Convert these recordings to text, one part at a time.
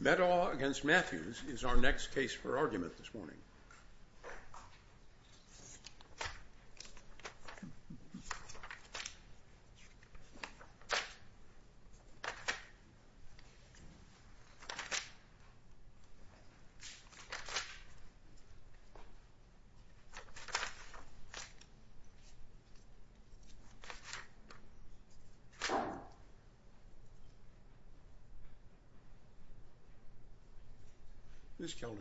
Meddaugh v. Matthews is our next case for argument this morning. Ms. Zellner.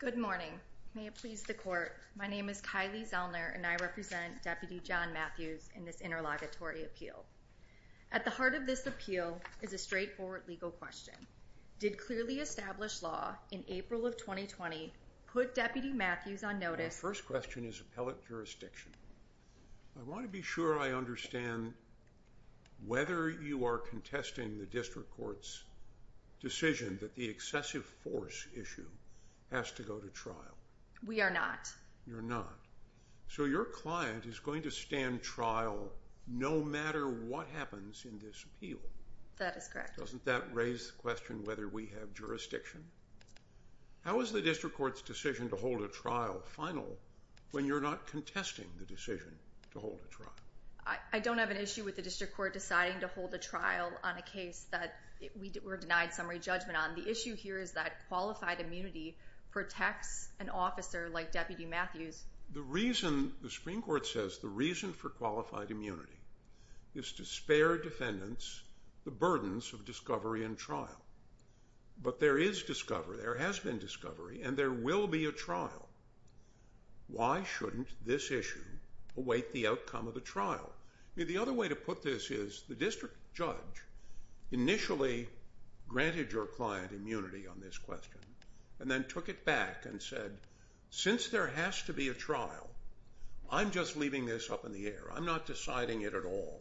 Good morning. May it please the court, my name is Kylie Zellner and I represent Deputy John Matthews in this interlocutory appeal. At the heart of this appeal is a straightforward legal question. Did clearly established law in April of 2020 put Deputy Matthews on notice? My first question is appellate jurisdiction. I want to be sure I understand whether you are contesting the district court's decision that the excessive force issue has to go to trial. We are not. You're not. So your client is going to stand trial no matter what happens in this appeal. That is correct. Doesn't that raise the question whether we have jurisdiction? How is the district court's decision to hold a trial final when you're not contesting the decision to hold a trial? I don't have an issue with the district court deciding to hold a trial on a case that we were denied summary judgment on. The issue here is that qualified immunity protects an officer like Deputy Matthews. The reason the Supreme Court says the reason for qualified immunity is to spare defendants the burdens of discovery and trial. But there is discovery, there has been discovery and there will be a trial. Why shouldn't this issue await the outcome of the trial? The other way to put this is the district judge initially granted your client immunity on this question and then took it back and said since there has to be a trial, I'm just leaving this up in the air. I'm not deciding it at all.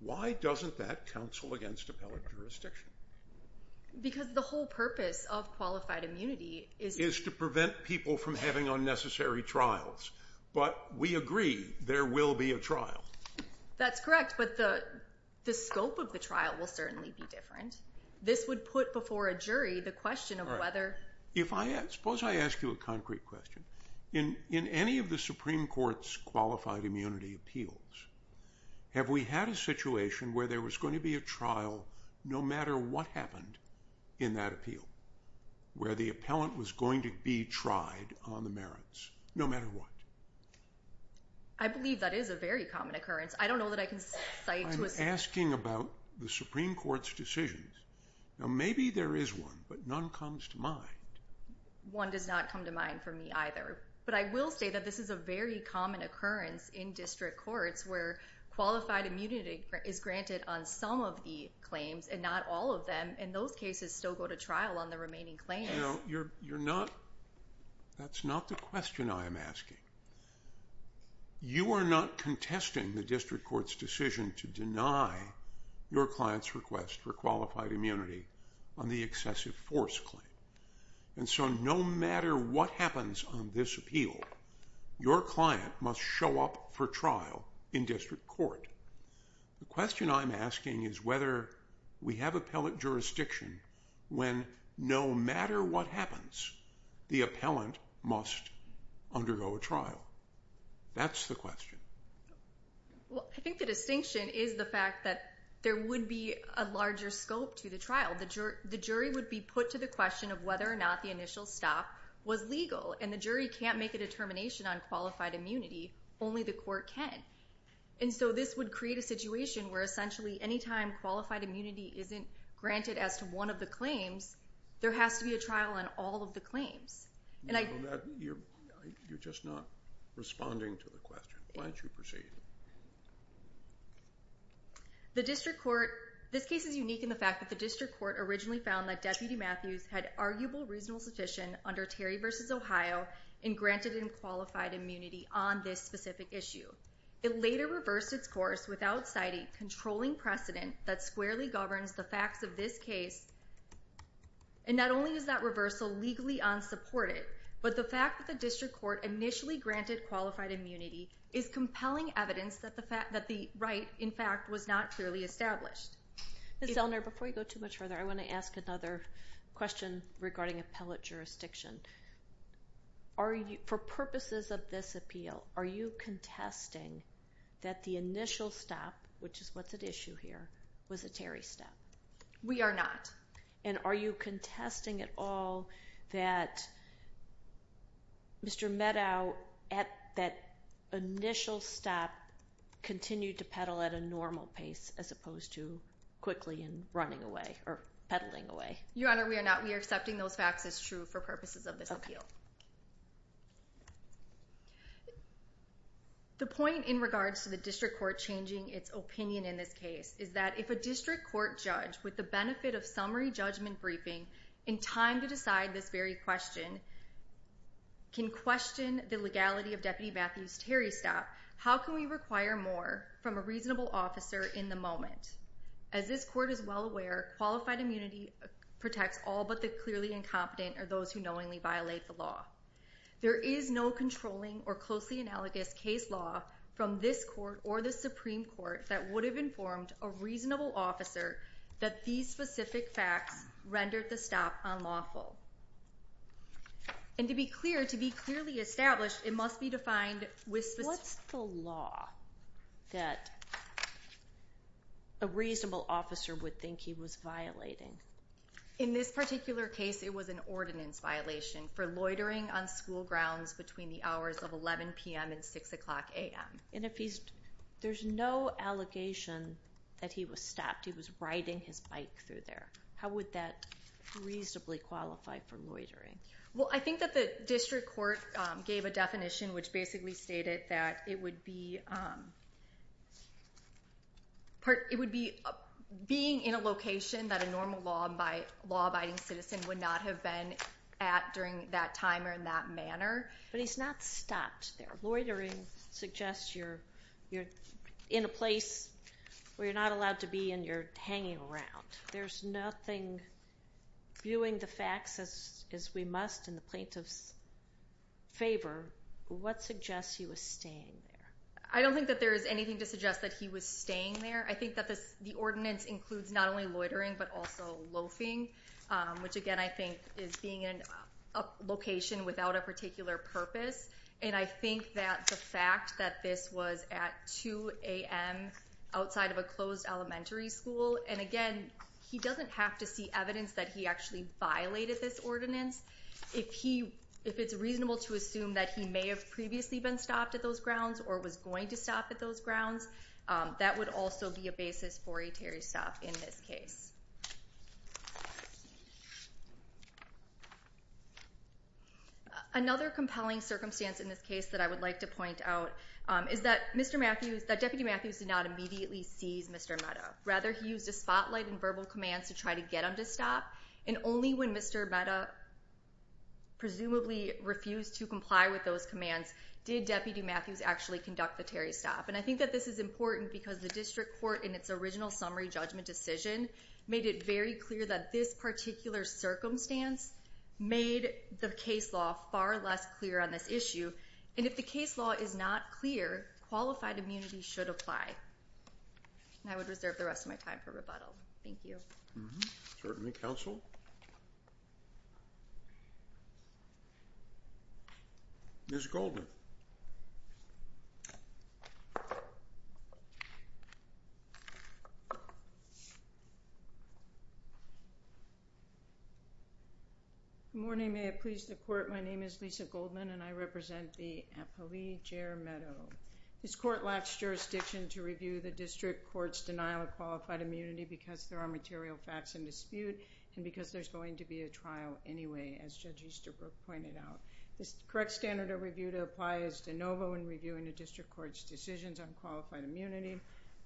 Why doesn't that counsel against appellate jurisdiction? Because the whole purpose of qualified immunity is to prevent people from having unnecessary trials. But we agree there will be a trial. That's correct, but the scope of the trial will certainly be different. This would put before a jury the question of whether... Suppose I ask you a concrete question. In any of the Supreme Court's qualified immunity appeals, have we had a situation where there was going to be a trial no matter what happened in that appeal, where the appellant was going to be tried on the merits, no matter what? I believe that is a very common occurrence. I don't know that I can cite to a... Asking about the Supreme Court's decisions, maybe there is one, but none comes to mind. One does not come to mind for me either. But I will say that this is a very common occurrence in district courts where qualified immunity is granted on some of the claims and not all of them. And those cases still go to trial on the remaining claims. You're not... That's not the question I am asking. You are not contesting the district court's decision to deny your client's request for qualified immunity on the excessive force claim. And so no matter what happens on this appeal, your client must show up for trial in district court. The question I'm asking is whether we have appellate jurisdiction when no matter what happens, the appellant must undergo a trial. That's the question. Well, I think the distinction is the fact that there would be a larger scope to the trial. The jury would be put to the question of whether or not the initial stop was legal. And the jury can't make a determination on qualified immunity. Only the court can. And so this would create a situation where essentially anytime qualified immunity isn't granted as to one of the claims, there has to be a trial on all of the claims. You're just not responding to the question. Why don't you proceed? The district court... This case is unique in the fact that the district court originally found that Deputy Matthews had arguable reasonable sufficient under Terry v. Ohio and granted him qualified immunity on this specific issue. It later reversed its course without citing controlling precedent that squarely governs the facts of this case. And not only is that reversal legally unsupported, but the fact that the district court initially granted qualified immunity is compelling evidence that the right, in fact, was not clearly established. Ms. Elner, before you go too much further, I want to ask another question regarding appellate jurisdiction. For purposes of this appeal, are you contesting that the initial stop, which is what's at issue here, was a Terry stop? We are not. And are you contesting at all that Mr. Meadow, at that initial stop, continued to peddle at a normal pace as opposed to quickly and running away or peddling away? Your Honor, we are not. We are accepting those facts as true for purposes of this appeal. The point in regards to the district court changing its opinion in this case is that if a district court judge, with the benefit of summary judgment briefing, in time to decide this very question, can question the legality of Deputy Matthews' Terry stop, how can we require more from a reasonable officer in the moment? As this court is well aware, qualified immunity protects all but the clearly incompetent or those who knowingly violate the law. There is no controlling or closely analogous case law from this court or the Supreme Court that would have informed a reasonable officer that these specific facts rendered the stop unlawful. And to be clear, to be clearly established, it must be defined with specific… What's the law that a reasonable officer would think he was violating? In this particular case, it was an ordinance violation for loitering on school grounds between the hours of 11 p.m. and 6 o'clock a.m. And there's no allegation that he was stopped. He was riding his bike through there. How would that reasonably qualify for loitering? Well, I think that the district court gave a definition which basically stated that it would be being in a location that a normal law-abiding citizen would not have been at during that time or in that manner. But he's not stopped there. Loitering suggests you're in a place where you're not allowed to be and you're hanging around. There's nothing viewing the facts as we must in the plaintiff's favor. What suggests he was staying there? I don't think that there is anything to suggest that he was staying there. I think that the ordinance includes not only loitering but also loafing, which, again, I think is being in a location without a particular purpose. And I think that the fact that this was at 2 a.m. outside of a closed elementary school, and, again, he doesn't have to see evidence that he actually violated this ordinance. If it's reasonable to assume that he may have previously been stopped at those grounds or was going to stop at those grounds, that would also be a basis for a Terry stop in this case. Another compelling circumstance in this case that I would like to point out is that Deputy Matthews did not immediately seize Mr. Mehta. Rather, he used a spotlight and verbal commands to try to get him to stop, and only when Mr. Mehta presumably refused to comply with those commands did Deputy Matthews actually conduct the Terry stop. And I think that this is important because the district court, in its original summary judgment decision, made it very clear that this particular circumstance made the case law far less clear on this issue. And if the case law is not clear, qualified immunity should apply. And I would reserve the rest of my time for rebuttal. Thank you. Certainly, counsel. Ms. Goldman. Good morning. May it please the court, my name is Lisa Goldman, and I represent the Appalachia Meadow. This court lacks jurisdiction to review the district court's denial of qualified immunity because there are material facts in dispute and because there's going to be a trial anyway, as Judge Easterbrook pointed out. The correct standard of review to apply is de novo in reviewing the district court's decisions on qualified immunity.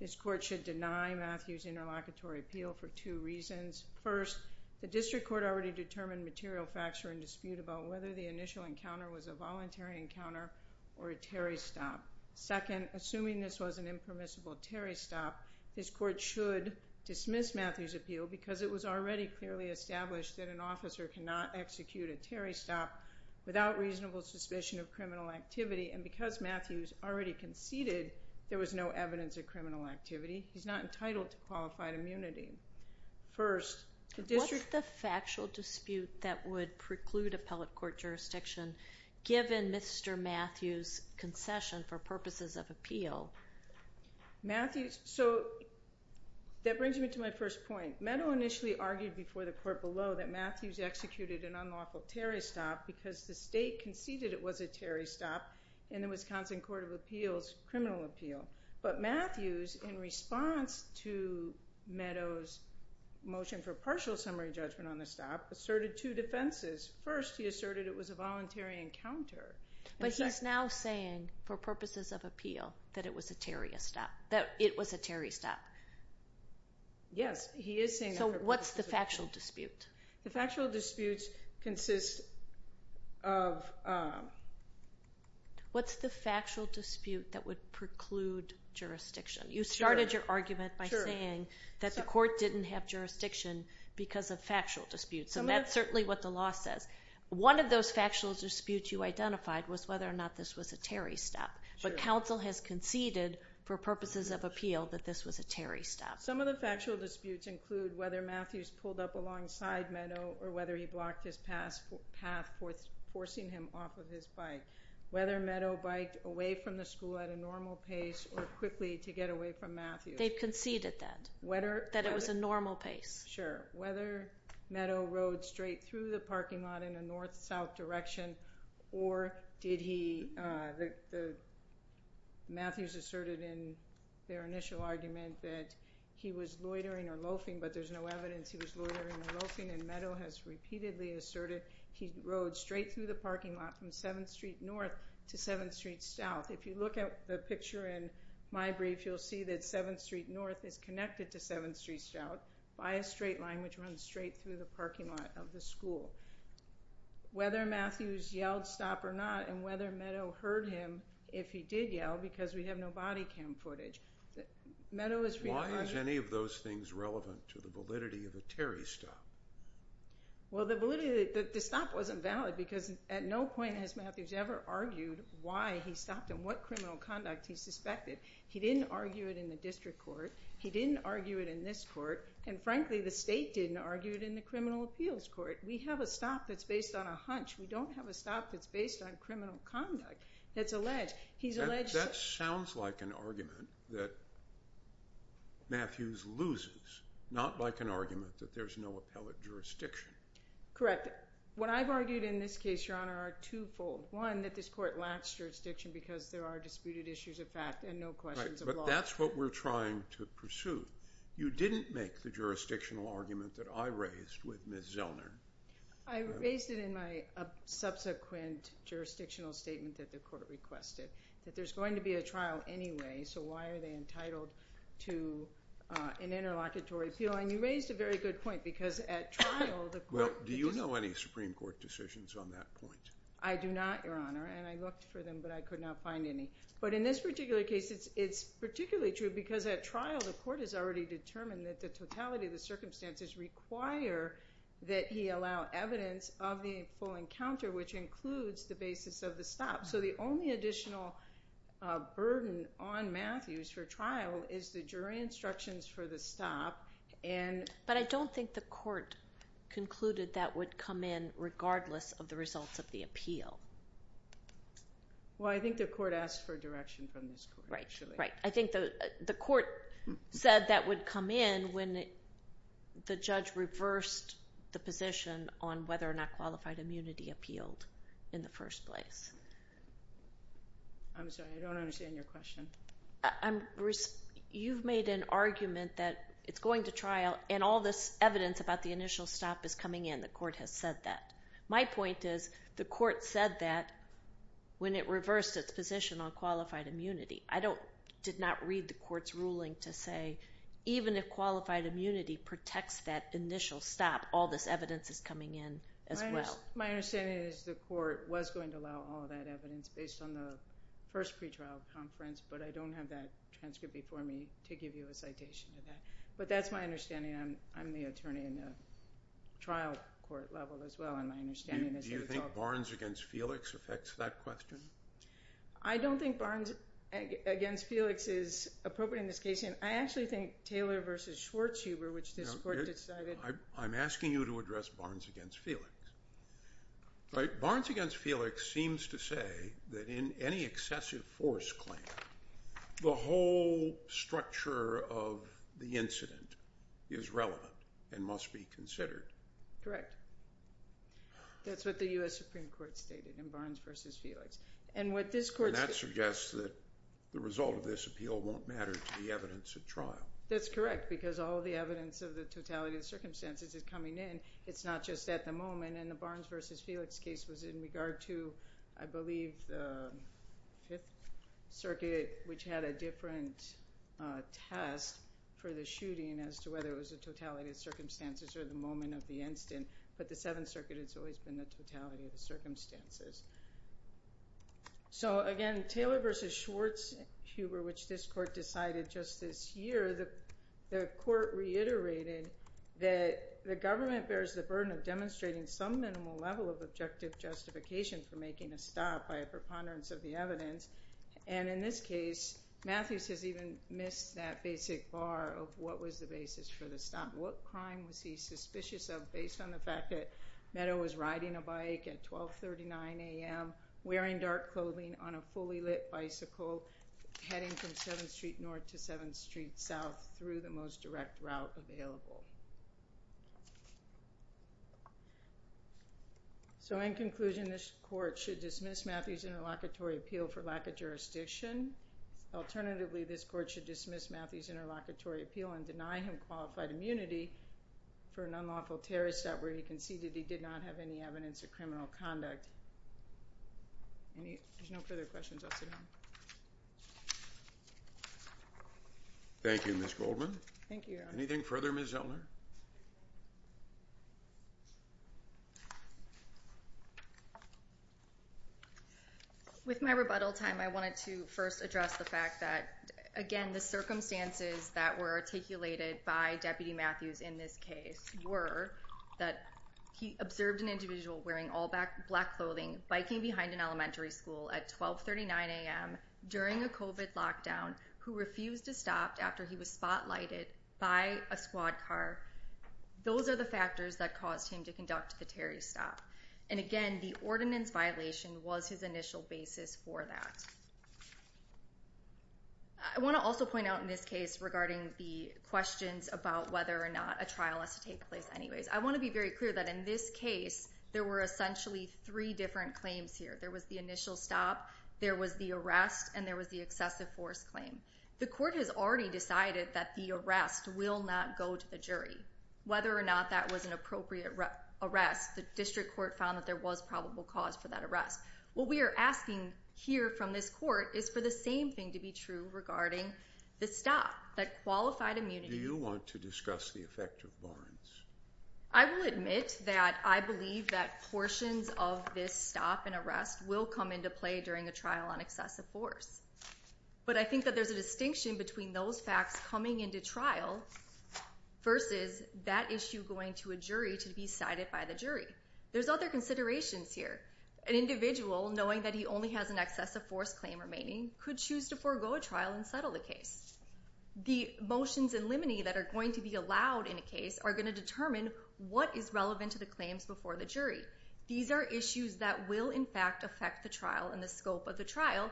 This court should deny Matthews' interlocutory appeal for two reasons. First, the district court already determined material facts are in dispute about whether the initial encounter was a voluntary encounter or a Terry stop. Second, assuming this was an impermissible Terry stop, this court should dismiss Matthews' appeal because it was already clearly established that an officer cannot execute a Terry stop without reasonable suspicion of criminal activity, and because Matthews already conceded there was no evidence of criminal activity, he's not entitled to qualified immunity. First, the district court- What's the factual dispute that would preclude appellate court jurisdiction given Mr. Matthews' concession for purposes of appeal? Matthews- so that brings me to my first point. Meadow initially argued before the court below that Matthews executed an unlawful Terry stop because the state conceded it was a Terry stop in the Wisconsin Court of Appeals criminal appeal. But Matthews, in response to Meadows' motion for partial summary judgment on the stop, asserted two defenses. First, he asserted it was a voluntary encounter. But he's now saying, for purposes of appeal, that it was a Terry stop. Yes, he is saying- So what's the factual dispute? The factual dispute consists of- What's the factual dispute that would preclude jurisdiction? You started your argument by saying that the court didn't have jurisdiction because of factual disputes, and that's certainly what the law says. One of those factual disputes you identified was whether or not this was a Terry stop. But counsel has conceded, for purposes of appeal, that this was a Terry stop. Some of the factual disputes include whether Matthews pulled up alongside Meadow or whether he blocked his path forcing him off of his bike, whether Meadow biked away from the school at a normal pace or quickly to get away from Matthews. They've conceded that, that it was a normal pace. Sure. Whether Meadow rode straight through the parking lot in a north-south direction or did he- Matthews asserted in their initial argument that he was loitering or loafing, but there's no evidence he was loitering or loafing. And Meadow has repeatedly asserted he rode straight through the parking lot from 7th Street North to 7th Street South. If you look at the picture in my brief, you'll see that 7th Street North is connected to 7th Street South by a straight line, which runs straight through the parking lot of the school. Whether Matthews yelled stop or not and whether Meadow heard him if he did yell, because we have no body cam footage, Meadow is- Why is any of those things relevant to the validity of a Terry stop? Well, the validity- the stop wasn't valid because at no point has Matthews ever argued why he stopped and what criminal conduct he suspected. He didn't argue it in the district court. He didn't argue it in this court. And frankly, the state didn't argue it in the criminal appeals court. We have a stop that's based on a hunch. We don't have a stop that's based on criminal conduct that's alleged. That sounds like an argument that Matthews loses, not like an argument that there's no appellate jurisdiction. Correct. What I've argued in this case, Your Honor, are twofold. One, that this court lacks jurisdiction because there are disputed issues of fact and no questions of law. Right, but that's what we're trying to pursue. You didn't make the jurisdictional argument that I raised with Ms. Zellner. I raised it in my subsequent jurisdictional statement that the court requested, that there's going to be a trial anyway, so why are they entitled to an interlocutory appeal? And you raised a very good point because at trial the court- Well, do you know any Supreme Court decisions on that point? I do not, Your Honor, and I looked for them, but I could not find any. But in this particular case, it's particularly true because at trial the court has already determined that the totality of the circumstances require that he allow evidence of the full encounter, which includes the basis of the stop. So the only additional burden on Matthews for trial is the jury instructions for the stop and- But I don't think the court concluded that would come in regardless of the results of the appeal. Well, I think the court asked for direction from this court, actually. Right, right. I think the court said that would come in when the judge reversed the position on whether or not qualified immunity appealed in the first place. I'm sorry, I don't understand your question. You've made an argument that it's going to trial and all this evidence about the initial stop is coming in. The court has said that. My point is the court said that when it reversed its position on qualified immunity. I did not read the court's ruling to say even if qualified immunity protects that initial stop, all this evidence is coming in as well. My understanding is the court was going to allow all that evidence based on the first pretrial conference, but I don't have that transcript before me to give you a citation of that. But that's my understanding. I'm the attorney in the trial court level as well, and my understanding is that it's all... Do you think Barnes v. Felix affects that question? I don't think Barnes v. Felix is appropriate in this case, and I actually think Taylor v. Schwartzhuber, which this court decided... I'm asking you to address Barnes v. Felix. Barnes v. Felix seems to say that in any excessive force claim, the whole structure of the incident is relevant and must be considered. Correct. That's what the U.S. Supreme Court stated in Barnes v. Felix. And what this court... And that suggests that the result of this appeal won't matter to the evidence at trial. That's correct, because all the evidence of the totality of circumstances is coming in. It's not just at the moment, and the Barnes v. Felix case was in regard to, I believe, the Fifth Circuit, which had a different test for the shooting as to whether it was the totality of circumstances or the moment of the incident. But the Seventh Circuit has always been the totality of the circumstances. So, again, Taylor v. Schwartzhuber, which this court decided just this year, the court reiterated that the government bears the burden of demonstrating some minimal level of objective justification for making a stop by a preponderance of the evidence. And in this case, Matthews has even missed that basic bar of what was the basis for the stop. What crime was he suspicious of based on the fact that Meadow was riding a bike at 12.39 a.m., wearing dark clothing on a fully lit bicycle, heading from 7th Street North to 7th Street South through the most direct route available. So, in conclusion, this court should dismiss Matthews' interlocutory appeal for lack of jurisdiction. Alternatively, this court should dismiss Matthews' interlocutory appeal and deny him qualified immunity for an unlawful terrorist act where he conceded he did not have any evidence of criminal conduct. There's no further questions. I'll sit down. Thank you, Ms. Goldman. Thank you, Your Honor. Anything further, Ms. Zellner? With my rebuttal time, I wanted to first address the fact that, again, the circumstances that were articulated by Deputy Matthews in this case were that he observed an individual wearing all black clothing, biking behind an elementary school at 12.39 a.m. during a COVID lockdown, who refused to stop after he was spotlighted by a squad car. Those are the factors that caused him to conduct the Terry stop. And, again, the ordinance violation was his initial basis for that. I want to also point out in this case regarding the questions about whether or not a trial has to take place anyways, I want to be very clear that in this case, there were essentially three different claims here. There was the initial stop, there was the arrest, and there was the excessive force claim. The court has already decided that the arrest will not go to the jury. Whether or not that was an appropriate arrest, the district court found that there was probable cause for that arrest. What we are asking here from this court is for the same thing to be true regarding the stop, that qualified immunity. Do you want to discuss the effect of barns? I will admit that I believe that portions of this stop and arrest will come into play during a trial on excessive force. But I think that there's a distinction between those facts coming into trial versus that issue going to a jury to be cited by the jury. There's other considerations here. An individual, knowing that he only has an excessive force claim remaining, could choose to forego a trial and settle the case. The motions in limine that are going to be allowed in a case are going to determine what is relevant to the claims before the jury. These are issues that will, in fact, affect the trial and the scope of the trial,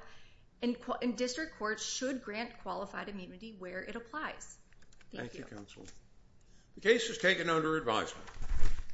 and district courts should grant qualified immunity where it applies. Thank you. Thank you, counsel. The case is taken under advisement.